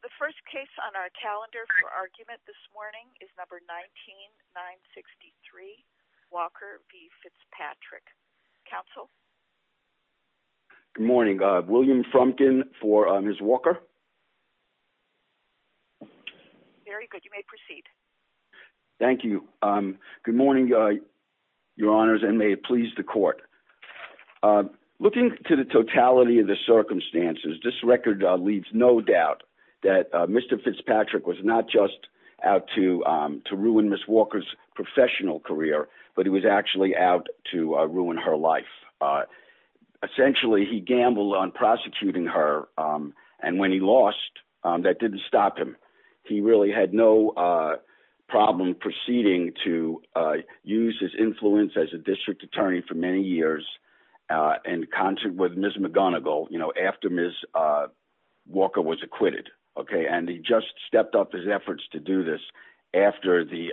The first case on our calendar for argument this morning is number 19-963, Walker v. Fitzpatrick. Counsel? Good morning. William Frumkin for Ms. Walker. Very good. You may proceed. Thank you. Good morning, your honors, and may it please the court. Looking to the totality of the circumstances, this record leaves no doubt that Mr. Fitzpatrick was not just out to ruin Ms. Walker's professional career, but he was actually out to ruin her life. Essentially, he gambled on prosecuting her, and when he lost, that didn't stop him. He really had no problem proceeding to use his influence as a district attorney for many after Ms. Walker was acquitted. He just stepped up his efforts to do this after the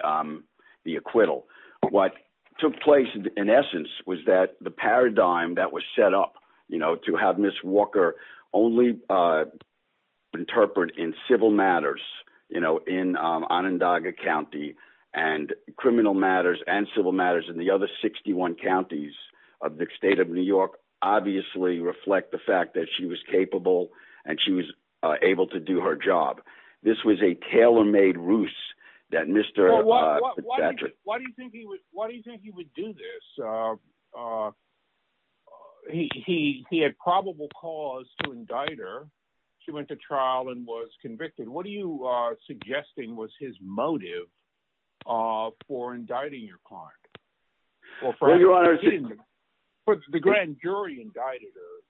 acquittal. What took place, in essence, was that the paradigm that was set up to have Ms. Walker only interpret in civil matters in Onondaga County and criminal matters and civil matters in the other 61 counties of the state of New York, obviously reflect the fact that she was capable and she was able to do her job. This was a tailor-made ruse that Mr. Fitzpatrick... Why do you think he would do this? He had probable cause to indict her. She went to trial and was convicted. What are you suggesting was his motive for indicting your client? Well, Your Honor, the grand jury indicted her,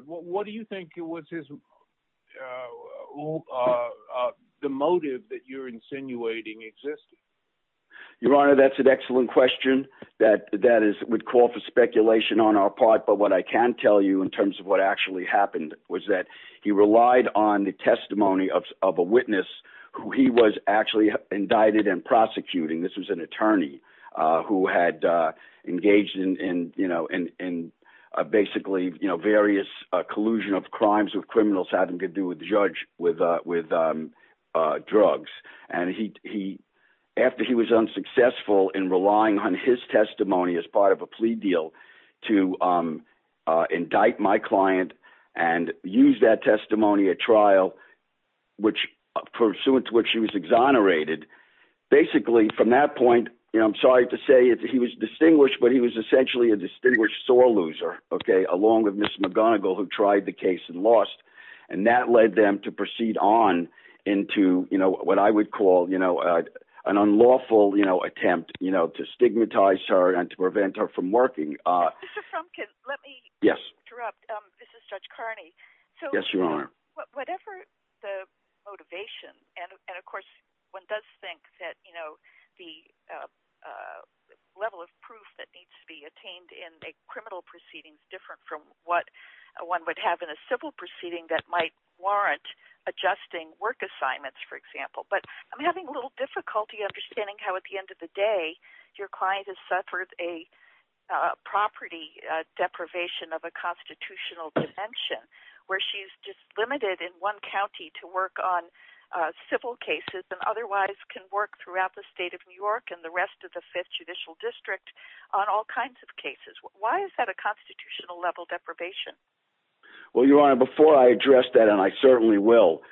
but what do you think was his... the motive that you're insinuating existed? Your Honor, that's an excellent question. That would call for speculation on our part, but what I can tell you in terms of what actually happened was that he relied on the testimony of a witness who he was actually indicted and engaged in various collusion of crimes with criminals having to do with drugs. After he was unsuccessful in relying on his testimony as part of a plea deal to indict my client and use that testimony at trial, pursuant to which she was exonerated, basically, from that point, I'm sorry to say he was distinguished, but he was essentially a distinguished sore loser, along with Ms. McGonigal, who tried the case and lost, and that led them to proceed on into what I would call an unlawful attempt to stigmatize her and to prevent her from working. Mr. Frumkin, let me interrupt. This is Judge Carney. Yes, Your Honor. Whatever the motivation, and of course, one does think that the level of proof that needs to be attained in a criminal proceeding is different from what one would have in a civil proceeding that might warrant adjusting work assignments, for example, but I'm having a little difficulty understanding how, at the end of the day, your client has suffered a property deprivation of constitutional dimension, where she's just limited in one county to work on civil cases and otherwise can work throughout the state of New York and the rest of the Fifth Judicial District on all kinds of cases. Why is that a constitutional-level deprivation? Well, Your Honor, before I address that, and I certainly will,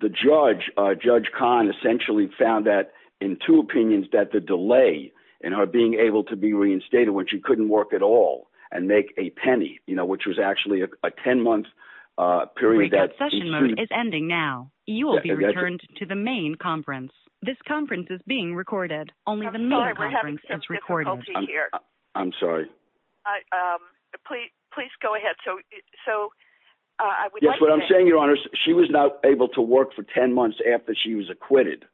the judge, Judge Kahn, essentially found that, in two opinions, that the delay in her being able to be reinstated, she couldn't work at all and make a penny, which was actually a 10-month period. Your session mode is ending now. You will be returned to the main conference. This conference is being recorded. I'm sorry, we're having some difficulty here. I'm sorry. Please go ahead. Yes, what I'm saying, Your Honor, she was not able to work for 10 months after she was acquitted,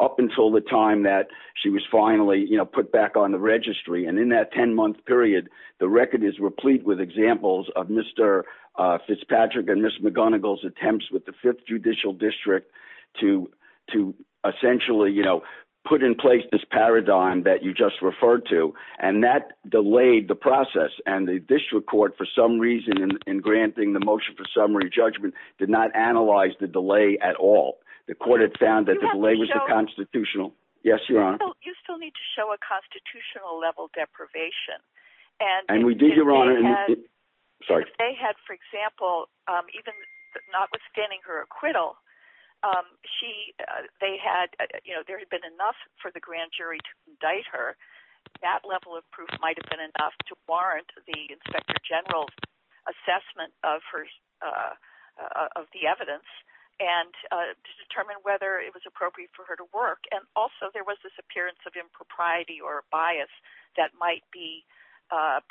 up until the time that she was finally put back on the registry, and in that 10-month period, the record is replete with examples of Mr. Fitzpatrick and Ms. McGonigal's attempts with the Fifth Judicial District to essentially put in place this paradigm that you just referred to, and that delayed the process, and the district court, for some reason, in granting the motion for summary judgment, did not analyze the delay at all. The court had found that the delay was unconstitutional. Yes, Your Honor. You still need to show a constitutional-level deprivation. And we do, Your Honor. Sorry. If they had, for example, even notwithstanding her acquittal, there had been enough for the grand jury to indict her. That level of proof might have been enough to warrant the Inspector General's assessment of the evidence, and to determine whether it was appropriate for her to work. And also, there was this appearance of impropriety or bias that might be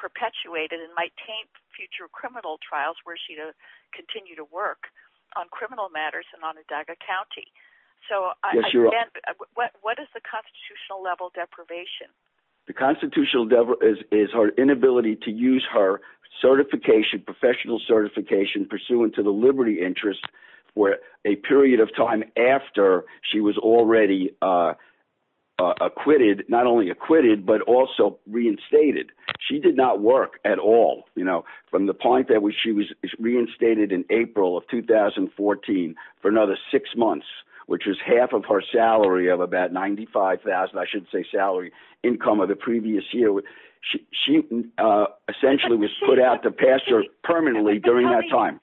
perpetuated and might taint future criminal trials where she would continue to work on criminal matters in Onondaga County. So, again, what is the constitutional-level deprivation? The constitutional-level is her inability to use her certification, professional certification, pursuant to the liberty interest, for a period of time after she was already acquitted, not only acquitted, but also reinstated. She did not work at all, you know, from the point that she was reinstated in April of 2014 for another six months, which is half of her salary of about $95,000, I should say salary income of the previous year. She essentially was put out to pass her permanently during that time.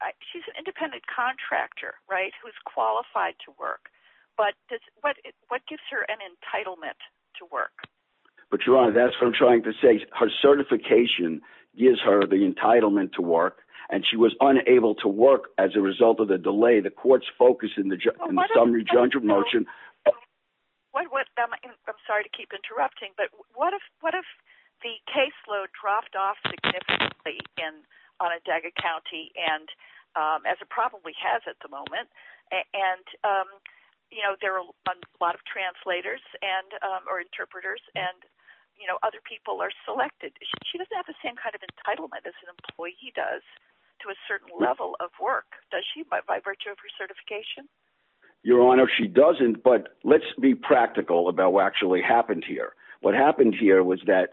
But she's an independent contractor, right, who's qualified to work. But what gives her an entitlement to work? But, Your Honor, that's what I'm trying to say. Her certification gives her the entitlement to work, and she was unable to work as a result of the delay. The Court's focus in the Summary Judgment Motion... I'm sorry to keep interrupting, but what if the caseload dropped off significantly in Onondaga County, as it probably has at the moment, and, you know, there are a lot of translators or interpreters, and, you know, other people are selected. She doesn't have the same kind of entitlement as an by virtue of her certification? Your Honor, she doesn't, but let's be practical about what actually happened here. What happened here was that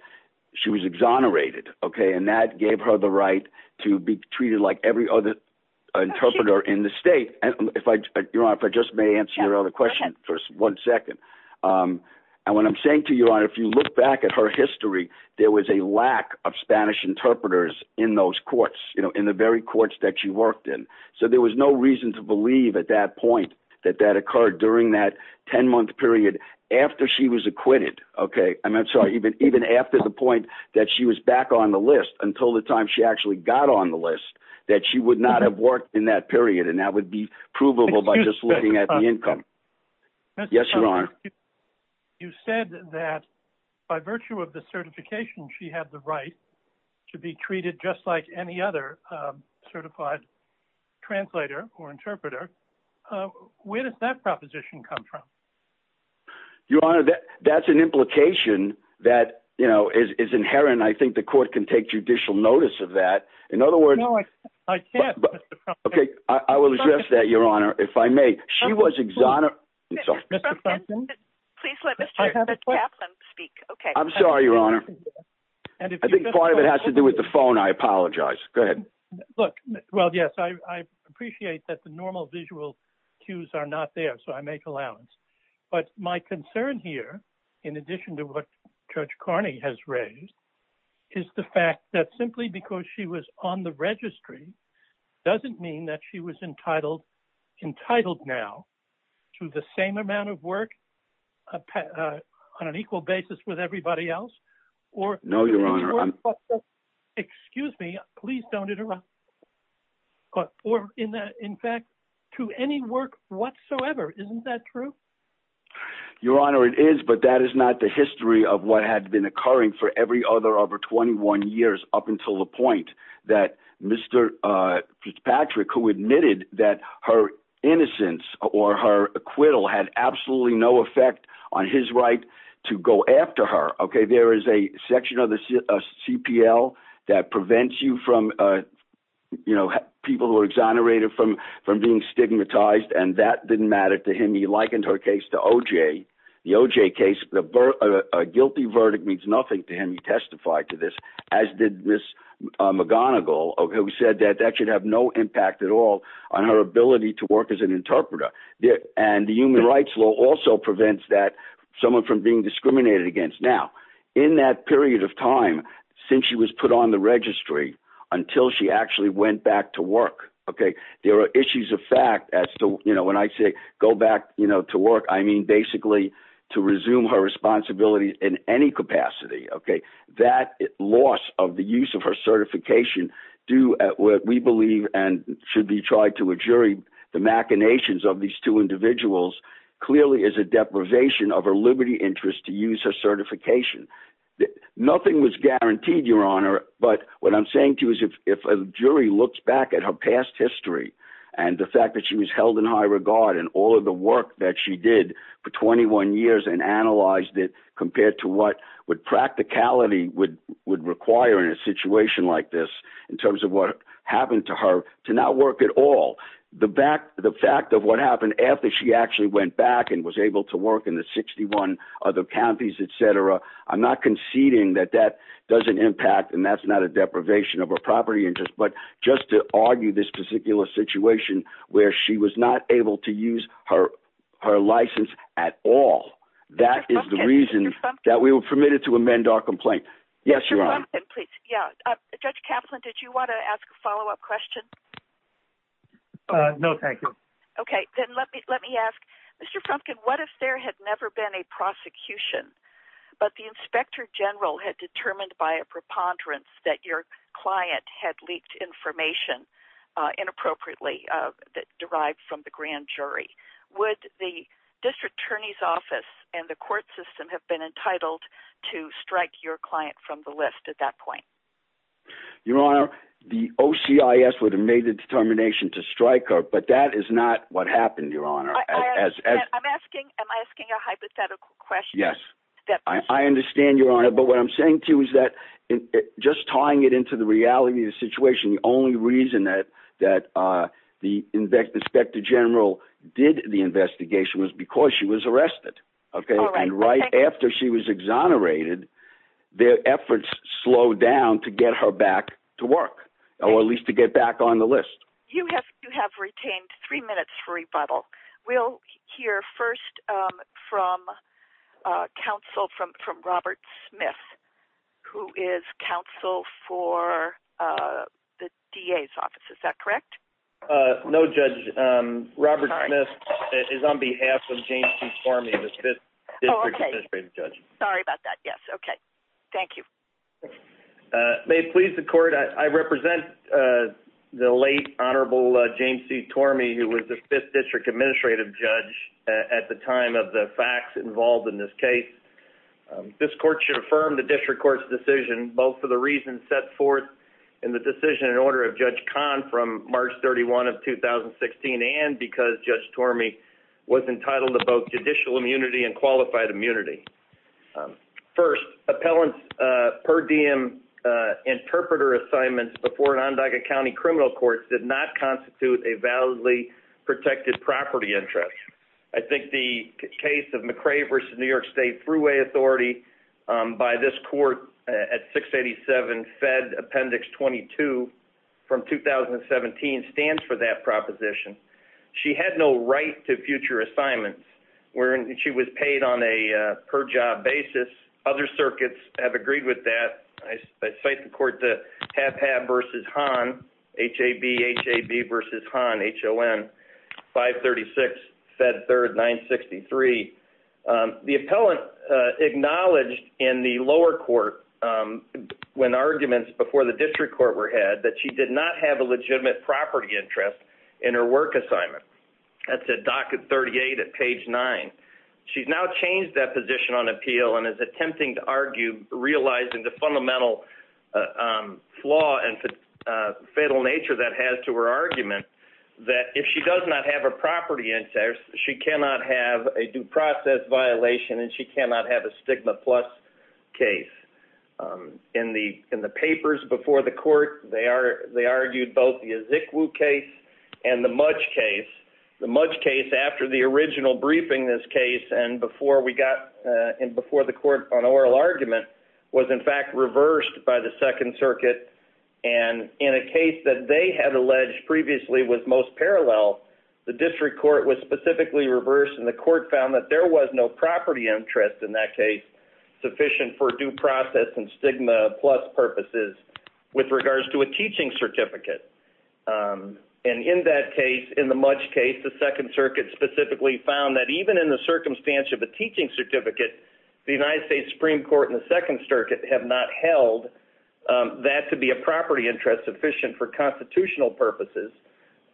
she was exonerated, okay, and that gave her the right to be treated like every other interpreter in the state. Your Honor, if I just may answer your other question for one second. And what I'm saying to you, Your Honor, if you look back at her history, there was a lack of Spanish interpreters in those courts, you know, in the very courts that she worked in. So there was no reason to believe at that point that that occurred during that 10-month period after she was acquitted, okay. I'm sorry, even after the point that she was back on the list, until the time she actually got on the list, that she would not have worked in that period, and that would be provable by just looking at the income. Yes, Your Honor. You said that by virtue of the certification, she had the right to be treated just like any other certified translator or interpreter. Where does that proposition come from? Your Honor, that's an implication that, you know, is inherent. I think the court can take judicial notice of that. In other words... No, I can't, Mr. Frumkin. Okay, I will address that, Your Honor, if I may. She was exonerated... Mr. Frumkin, please let Mr. Kaplan speak. I'm sorry, Your Honor. I think part of it has to do with the phone. I apologize. Go ahead. Look, well, yes, I appreciate that the normal visual cues are not there, so I make allowance. But my concern here, in addition to what Judge Carney has raised, is the fact that simply because she was on the registry doesn't mean that she was entitled now to the same amount of work on an equal basis with everybody else. No, Your Honor. Excuse me, please don't interrupt. In fact, to any work whatsoever. Isn't that true? Your Honor, it is, but that is not the history of what had been occurring for every other over 21 years up until the point that Mr. Patrick, who admitted that her innocence or her acquittal had absolutely no effect on his right to go after her. Okay, there is a section of the CPL that prevents you from, you know, people who are exonerated from being stigmatized, and that didn't matter to him. He likened her case to OJ. The OJ case, a guilty verdict means nothing to him. He testified to this, as did Ms. McGonigal. Okay, we said that that should have no impact at all on her ability to work as an interpreter. And the human rights law also prevents that someone from being discriminated against. Now, in that period of time since she was put on the registry until she actually went back to work, okay, there are issues of fact as to, you know, when I say go back, you know, to work, I mean basically to resume her responsibility in any capacity. Okay, that loss of the use of her certification due at what we believe and should be tried to a jury, the machinations of these two individuals clearly is a deprivation of her liberty interest to use her certification. Nothing was guaranteed, Your Honor, but what I'm saying to you is if a jury looks back at her past history and the fact that she was held in high regard and all of the work that she did for 21 years and analyzed it compared to what would practicality would require in a situation like this in terms of what happened to her to not work at all, the fact of what happened after she actually went back and was able to work in the 61 other counties, et cetera, I'm not conceding that that doesn't impact and that's not a deprivation of her property interest, but just to argue this situation where she was not able to use her license at all, that is the reason that we were permitted to amend our complaint. Yes, Your Honor. Judge Kaplan, did you want to ask a follow-up question? No, thank you. Okay, then let me ask, Mr. Frumpkin, what if there had never been a prosecution, but the Inspector General had determined by a preponderance that your client had leaked information inappropriately that derived from the grand jury, would the District Attorney's Office and the court system have been entitled to strike your client from the list at that point? Your Honor, the OCIS would have made the determination to strike her, but that is not what happened, Your Honor. I'm asking, am I asking a hypothetical question? Yes, I understand, Your Honor. The reality of the situation, the only reason that the Inspector General did the investigation was because she was arrested, okay, and right after she was exonerated, their efforts slowed down to get her back to work, or at least to get back on the list. You have retained three minutes for rebuttal. We'll hear first from counsel from Robert Smith, who is for the DA's office, is that correct? No, Judge, Robert Smith is on behalf of James C. Tormey, the Fifth District Administrative Judge. Sorry about that, yes, okay, thank you. May it please the court, I represent the late Honorable James C. Tormey, who was the Fifth District Administrative Judge at the time of the facts involved in this case. This court should set forth in the decision in order of Judge Kahn from March 31 of 2016, and because Judge Tormey was entitled to both judicial immunity and qualified immunity. First, appellant's per diem interpreter assignments before an Onondaga County criminal court did not constitute a validly protected property interest. I think the case of McCrave v. New York State Thruway Authority by this court at 687 Fed Appendix 22 from 2017 stands for that proposition. She had no right to future assignments. She was paid on a per job basis. Other circuits have agreed with that. I acknowledge in the lower court when arguments before the district court were had, that she did not have a legitimate property interest in her work assignment. That's at docket 38 at page 9. She's now changed that position on appeal and is attempting to argue, realizing the fundamental flaw and fatal nature that has to her argument, that if she does not have a property interest, she cannot have a due process violation and she cannot have a stigma plus case. In the papers before the court, they argued both the Izikwu case and the Mudge case. The Mudge case, after the original briefing this case and before the court on oral argument, was in fact reversed by the Second Circuit, and in a case that they had alleged previously was most parallel, the district court was specifically reversed and the court found that there was no property interest in that case sufficient for due process and stigma plus purposes with regards to a teaching certificate. And in that case, in the Mudge case, the Second Circuit specifically found that even in the circumstance of a teaching certificate, the United States Supreme Court and the Second Circuit have not held that to be a property interest sufficient for constitutional purposes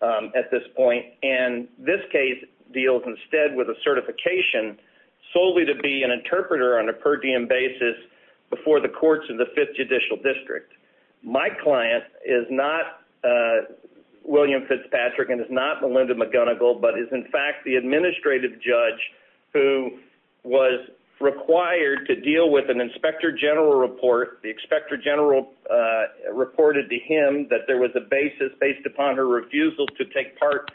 at this point. And this case deals instead with a certification solely to be an interpreter on a per diem basis before the courts of the Fifth Judicial District. My client is not William Fitzpatrick and is not Melinda McGonigal, but is in fact the administrative judge who was required to deal with an Inspector General report. The Inspector General reported to him that there was a basis based upon her refusal to take part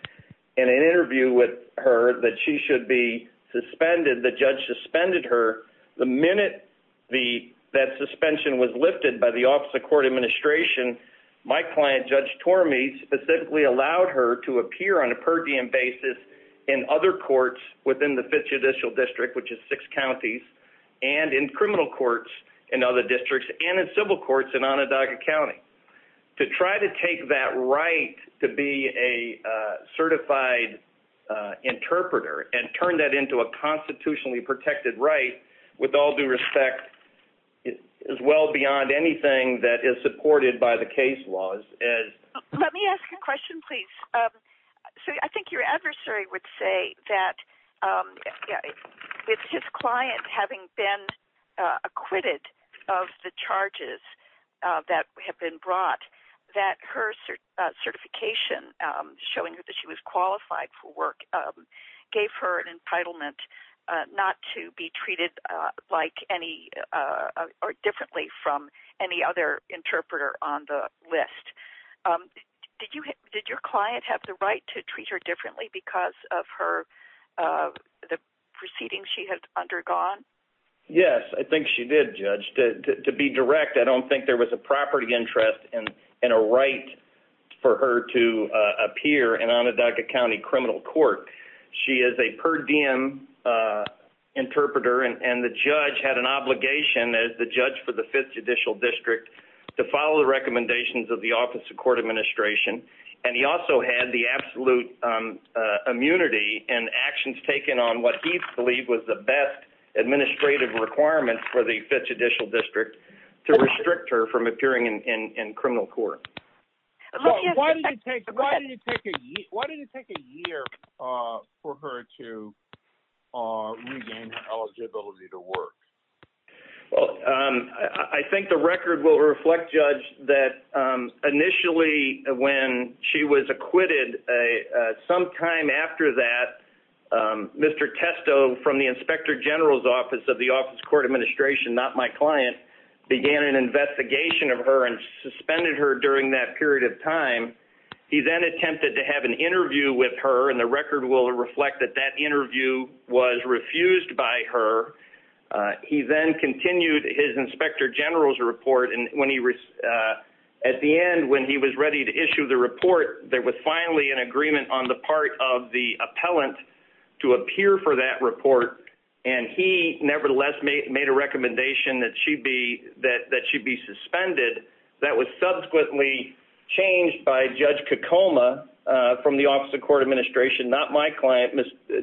in an interview with her that she should be suspended. The judge suspended her. The minute that suspension was lifted by the Office of Court Administration, my client, Judge Tormey, specifically allowed her to appear on a per diem basis in other courts within the Fifth Judicial District, which is six counties, and in criminal courts in other districts, and in civil courts in Onondaga County. To try to take that right to be a certified interpreter and turn that into a constitutionally protected right, with all due respect, is well beyond anything that is supported by the case laws. Let me ask a question, please. So I think your adversary would say that with his client having been acquitted of the charges that have been brought, that her certification, showing that she was qualified for work, gave her an entitlement not to be treated like any or differently from any other interpreter on the list. Did your client have the right to the proceedings she had undergone? Yes, I think she did, Judge. To be direct, I don't think there was a property interest and a right for her to appear in Onondaga County criminal court. She is a per diem interpreter, and the judge had an obligation, as the judge for the Fifth Judicial District, to follow the recommendations of the Office of Court Administration. He also had the absolute immunity and actions taken on what he believed was the best administrative requirement for the Fifth Judicial District to restrict her from appearing in criminal court. Why did it take a year for her to regain her eligibility to work? Well, I think the record will reflect, Judge, that initially when she was acquitted, sometime after that, Mr. Testo from the Inspector General's Office of the Office of Court Administration, not my client, began an investigation of her and suspended her during that period of time. He then attempted to have an interview with her, and the record will reflect that that then continued his Inspector General's report. At the end, when he was ready to issue the report, there was finally an agreement on the part of the appellant to appear for that report, and he nevertheless made a recommendation that she be suspended. That was subsequently changed by Judge Kokoma from the Office of Court Administration, not my client,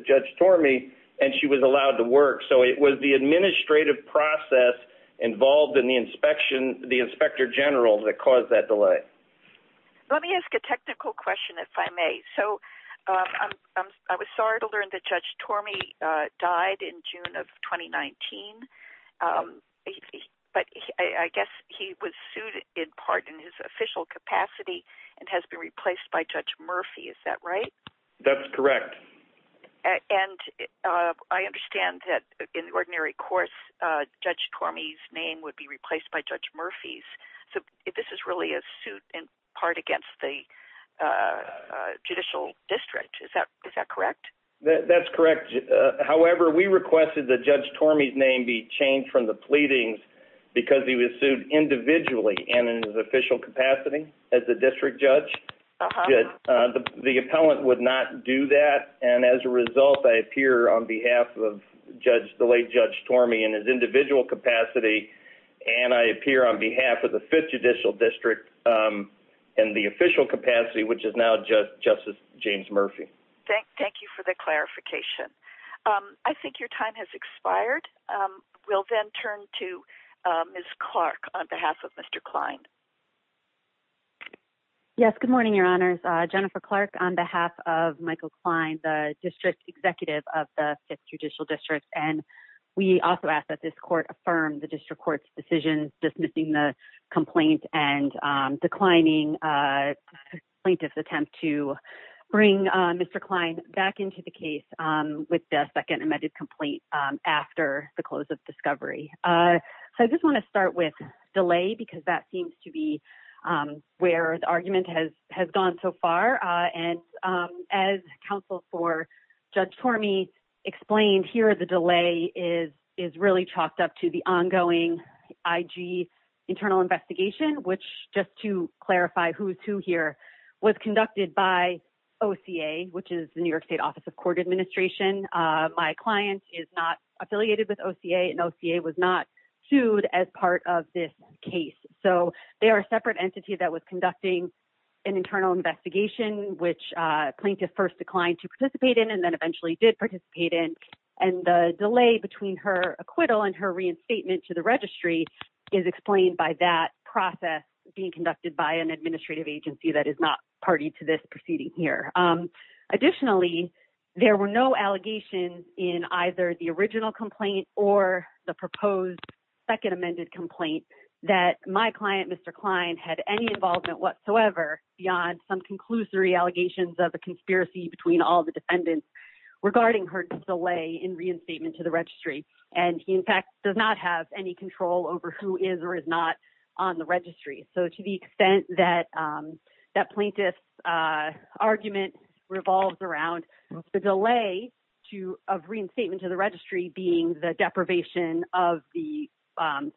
Judge Tormey, and she was allowed to work. So it was the administrative process involved in the inspection, the Inspector General, that caused that delay. Let me ask a technical question, if I may. So I was sorry to learn that Judge Tormey died in June of 2019, but I guess he was sued in part in his official capacity and has been replaced by Judge Murphy. Is that right? That's correct. And I understand that in the ordinary course, Judge Tormey's name would be replaced by Judge Murphy's. So this is really a suit in part against the judicial district. Is that correct? That's correct. However, we requested that Judge Tormey's name be changed from the pleadings because he was sued individually and in his official capacity as the district judge. Good. The appellant would not do that, and as a result, I appear on behalf of Judge, the late Judge Tormey in his individual capacity, and I appear on behalf of the Fifth Judicial District in the official capacity, which is now Justice James Murphy. Thank you for the clarification. I think your time has expired. We'll then turn to Ms. Clark on behalf of Mr. Klein. Yes. Good morning, Your Honors. Jennifer Clark on behalf of Michael Klein, the district executive of the Fifth Judicial District, and we also ask that this court affirm the district court's decision dismissing the complaint and declining plaintiff's attempt to bring Mr. Klein back into the case with the second amended complaint after the close of discovery. So I just want to start with delay because that seems to be where the argument has gone so far, and as counsel for Judge Tormey explained here, the delay is really chalked up to the ongoing IG internal investigation, which, just to clarify who's who here, was conducted by OCA, which is the New York State Office of Court Administration. My client is not affiliated with OCA, and OCA was not of this case. So they are a separate entity that was conducting an internal investigation, which plaintiff first declined to participate in and then eventually did participate in, and the delay between her acquittal and her reinstatement to the registry is explained by that process being conducted by an administrative agency that is not party to this proceeding here. Additionally, there were no allegations in either the original complaint or the proposed second complaint that my client, Mr. Klein, had any involvement whatsoever beyond some conclusory allegations of a conspiracy between all the defendants regarding her delay in reinstatement to the registry. And he, in fact, does not have any control over who is or is not on the registry. So to the extent that plaintiff's argument revolves around the delay of reinstatement to the registry being the deprivation of the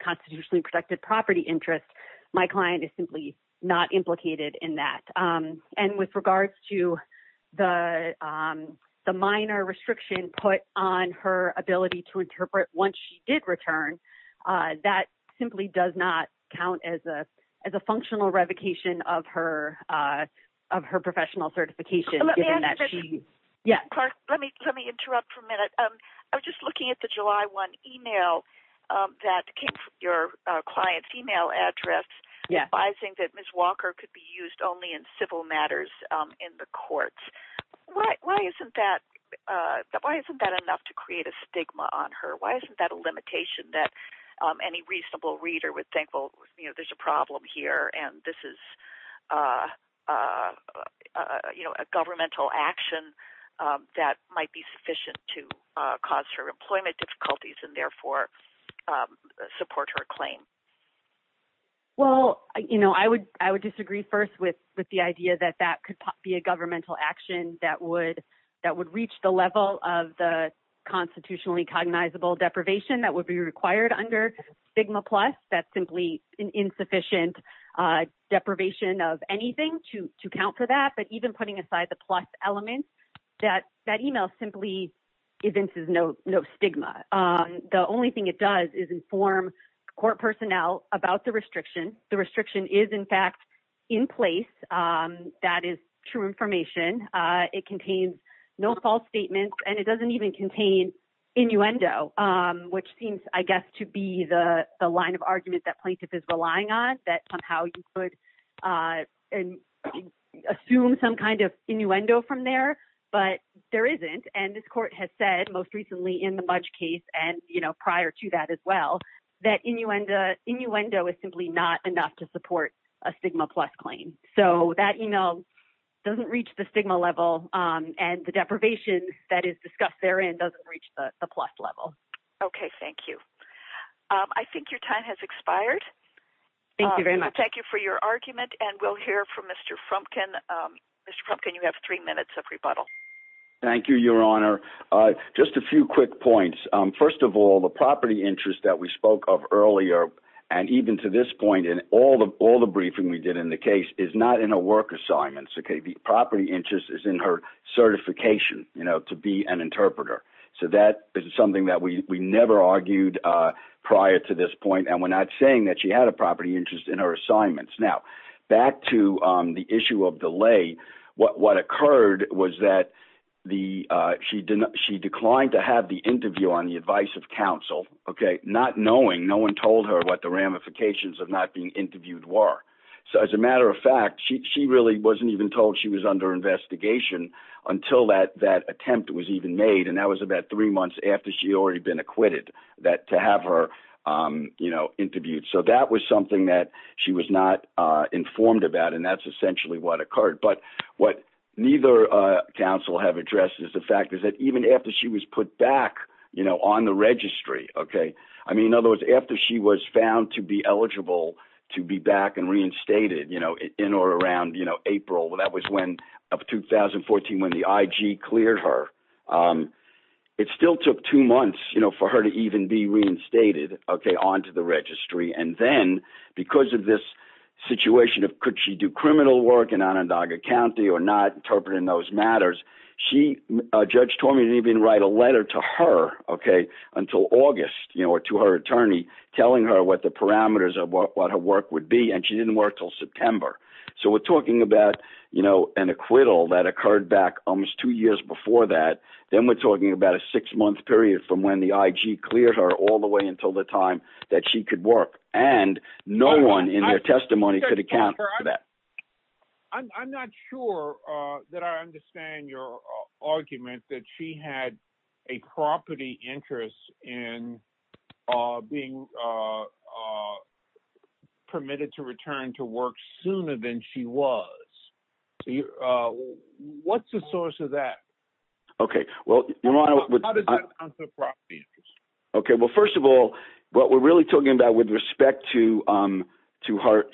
constitutionally protected property interest, my client is simply not implicated in that. And with regards to the minor restriction put on her ability to interpret once she did return, that simply does not count as a functional revocation of her professional certification. Let me interrupt for a minute. I was just looking at the July 1 email that came from your client's email address advising that Ms. Walker could be used only in civil matters in the courts. Why isn't that enough to create a stigma on her? Why isn't that a limitation that any reasonable reader would think, well, you know, there's a a governmental action that might be sufficient to cause her employment difficulties and therefore support her claim? Well, you know, I would disagree first with the idea that that could be a governmental action that would reach the level of the constitutionally cognizable deprivation that would be required under stigma plus. That's simply an insufficient deprivation of anything to count for that. But even putting aside the plus element, that email simply evinces no stigma. The only thing it does is inform court personnel about the restriction. The restriction is in fact in place. That is true information. It contains no false statements, and it doesn't even contain innuendo, which seems, I guess, to be the line of argument that plaintiff is relying on, that somehow you could assume some kind of innuendo from there, but there isn't. And this court has said most recently in the Mudge case and, you know, prior to that as well, that innuendo is simply not enough to support a stigma plus claim. So that email doesn't reach the stigma level, and the deprivation that is discussed therein doesn't reach the plus level. Okay, thank you. I think your time has expired. Thank you very much. Thank you for your argument, and we'll hear from Mr. Frumpkin. Mr. Frumpkin, you have three minutes of rebuttal. Thank you, Your Honor. Just a few quick points. First of all, the property interest that we spoke of earlier, and even to this point in all the briefing we did in the case, is not in a work assignment. Okay, the property interest is in her certification, you know, to be an interpreter. So that is something that we never argued prior to this point, and we're not saying that she had a property interest in her assignments. Now, back to the issue of delay, what occurred was that she declined to have the interview on the advice of counsel, okay, not knowing, no one told her what the ramifications of not being interviewed were. So as a matter of fact, she really wasn't even told she was under investigation until that attempt was even made, and that was about three months after she had already been acquitted that to have her, you know, interviewed. So that was something that she was not informed about, and that's essentially what occurred. But what counsel have addressed is the fact is that even after she was put back, you know, on the registry, okay, I mean, in other words, after she was found to be eligible to be back and reinstated, you know, in or around, you know, April, that was when, of 2014, when the IG cleared her, it still took two months, you know, for her to even be reinstated, okay, onto the registry. And then, because of this situation of could she do criminal work in Onondaga County or not interpreting those matters, she, Judge told me to even write a letter to her, okay, until August, you know, to her attorney, telling her what the parameters of what her work would be, and she didn't work till September. So we're talking about, you know, an acquittal that occurred back almost two years before that, then we're talking about a six month period from when the IG cleared her all the way until the time that she could work, and no one in their testimony could account for that. I'm not sure that I understand your argument that she had a property interest in being permitted to return to work sooner than she was. What's the source of that? Okay, well, okay, well, first of all, what we're really talking about with respect to to her,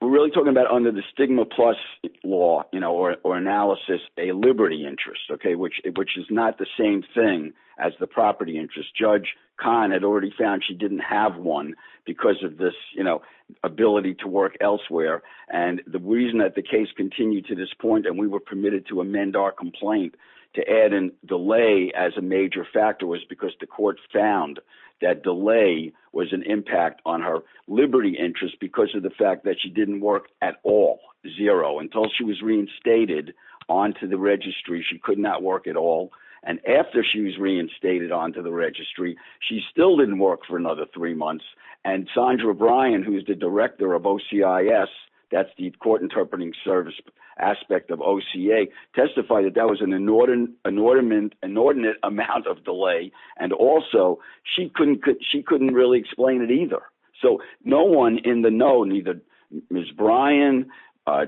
we're really talking about under the stigma plus law, you know, or analysis, a liberty interest, okay, which, which is not the same thing as the property interest. Judge Kahn had already found she didn't have one because of this, you know, ability to work elsewhere. And the reason that the case continued to this point, and we were permitted to amend our complaint to add in delay as a major factor was because the court found that delay was an impact on her liberty interest because of the fact that she didn't work at all, zero, until she was reinstated onto the registry, she could not work at all. And after she was reinstated onto the registry, she still didn't work for another three months. And Sandra Bryan, who is the director of OCIS, that's the Court inordinate amount of delay. And also, she couldn't, she couldn't really explain it either. So no one in the know, neither Ms. Bryan, or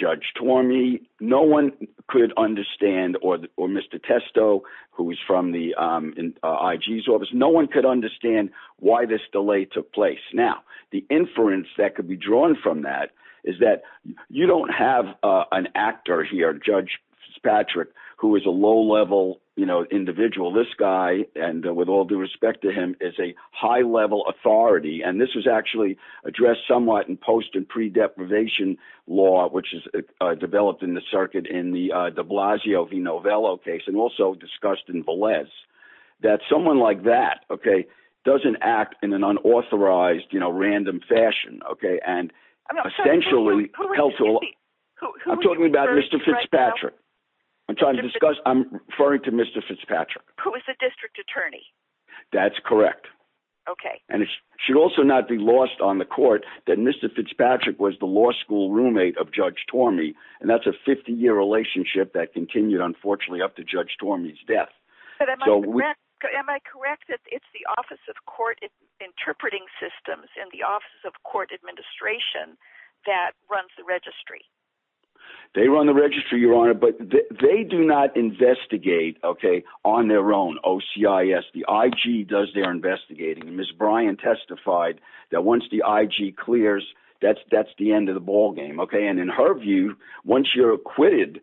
Judge Tormey, no one could understand or Mr. Testo, who was from the IG's office, no one could understand why this delay took place. Now, the inference that could be drawn from that is that you don't have an actor here, Judge Patrick, who is a low level, you know, individual, this guy, and with all due respect to him, is a high level authority. And this was actually addressed somewhat in post and pre deprivation law, which is developed in the circuit in the de Blasio v. Novello case, and also discussed in random fashion, okay. And essentially, I'm talking about Mr. Fitzpatrick. I'm trying to discuss, I'm referring to Mr. Fitzpatrick, who is the district attorney. That's correct. Okay. And it should also not be lost on the court that Mr. Fitzpatrick was the law school roommate of Judge Tormey. And that's a 50 year relationship that continued, unfortunately, up to Judge Tormey's But am I correct that it's the Office of Court Interpreting Systems and the Office of Court Administration that runs the registry? They run the registry, Your Honor, but they do not investigate, okay, on their own. OCIS, the IG does their investigating. Ms. Bryan testified that once the IG clears, that's the end of the ballgame, okay. And in her view, once you're acquitted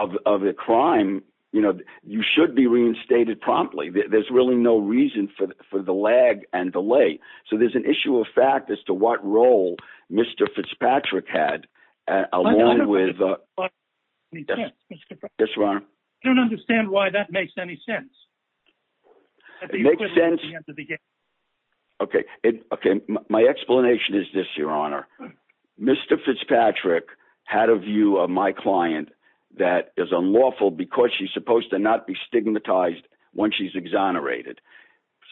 of a crime, you know, you should be reinstated promptly. There's really no reason for the lag and delay. So there's an issue of fact as to what role Mr. Fitzpatrick had, along with Yes, Your Honor. I don't understand why that makes any sense. It makes sense. Okay. Okay. My explanation is this, Your Honor. Mr. Fitzpatrick had a view of my client that is unlawful because she's supposed to not be stigmatized when she's exonerated.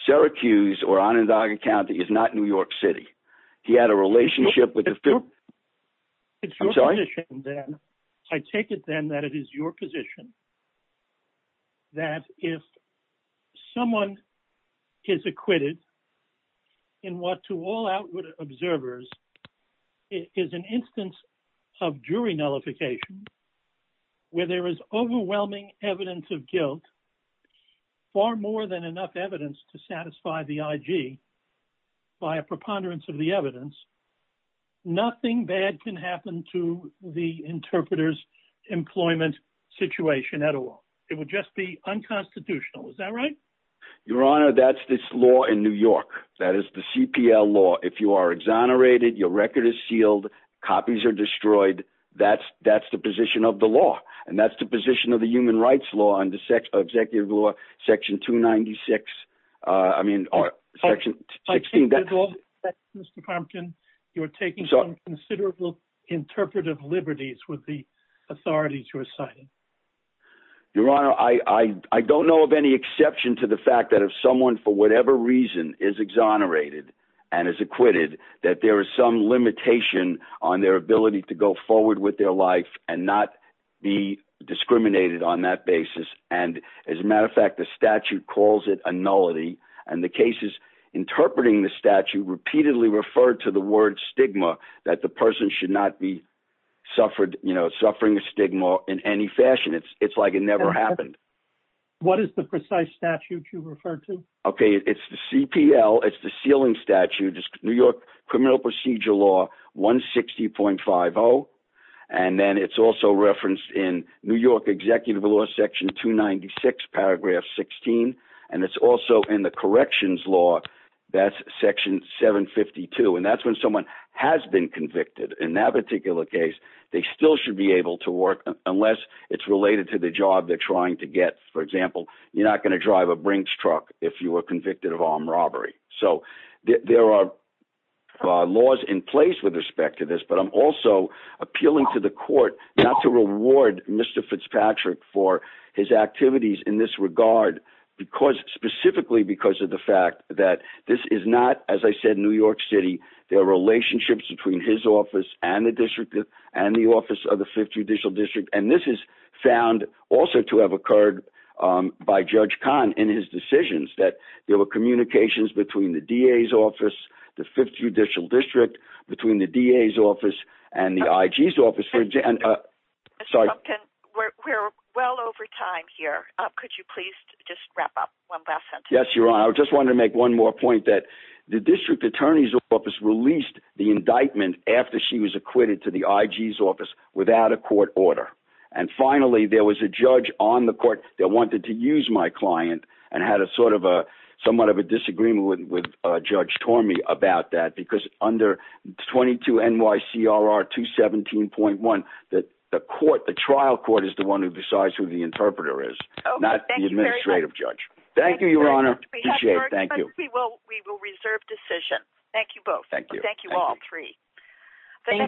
Syracuse or Onondaga County is not New York City. He had a relationship with the I take it then that it is your position that if someone is acquitted in what to all outward observers it is an instance of jury nullification where there is overwhelming evidence of guilt, far more than enough evidence to satisfy the IG by a preponderance of the evidence, nothing bad can happen to the interpreter's employment situation at all. It would just be unconstitutional. Is that right? Your Honor, that's this law in New York. That is the CPL law. If you are exonerated, your record is sealed. Copies are destroyed. That's the position of the law. And that's the position of the human rights law and the executive law, section 296, I mean, section 16. You're taking some considerable interpretive liberties with the authorities you're citing. Your Honor, I don't know of any exception to the fact that if someone for whatever reason is exonerated and is acquitted that there is some limitation on their ability to go forward with their life and not be discriminated on that basis. And as a matter of fact, the statute calls it a nullity and the cases interpreting the statute repeatedly referred to the word stigma, that the person should not be suffered, you know, suffering a stigma in any way. What is the precise statute you refer to? Okay, it's the CPL. It's the sealing statute. It's New York criminal procedure law 160.50. And then it's also referenced in New York executive law, section 296, paragraph 16. And it's also in the corrections law. That's section 752. And that's when someone has been convicted. In that particular case, they still should be able to work unless it's related to the job they're trying to get. For example, you're not going to drive a Brinks truck if you were convicted of armed robbery. So there are laws in place with respect to this. But I'm also appealing to the court not to reward Mr. Fitzpatrick for his activities in this regard, because specifically because of the fact that this is not, as I said, New York City, there are relationships between his office and the district and the office of the Fifth Judicial District. And this is found also to have occurred by Judge Kahn in his decisions, that there were communications between the DA's office, the Fifth Judicial District, between the DA's office and the IG's office. We're well over time here. Could you please just wrap up one last sentence? Yes, Your Honor. I just wanted to make one more point that the district attorney's office released the indictment after she was acquitted to the IG's office without a court order. And finally, there was a judge on the court that wanted to use my client and had a sort of a somewhat of a disagreement with Judge Tormey about that, because under 22 NYCRR 217.1, the trial court is the one who decides who the interpreter is, not the administrative judge. Thank you, Your Honor. Appreciate it. Thank you. We will reserve decision. Thank you both. Thank you. Thank you all three.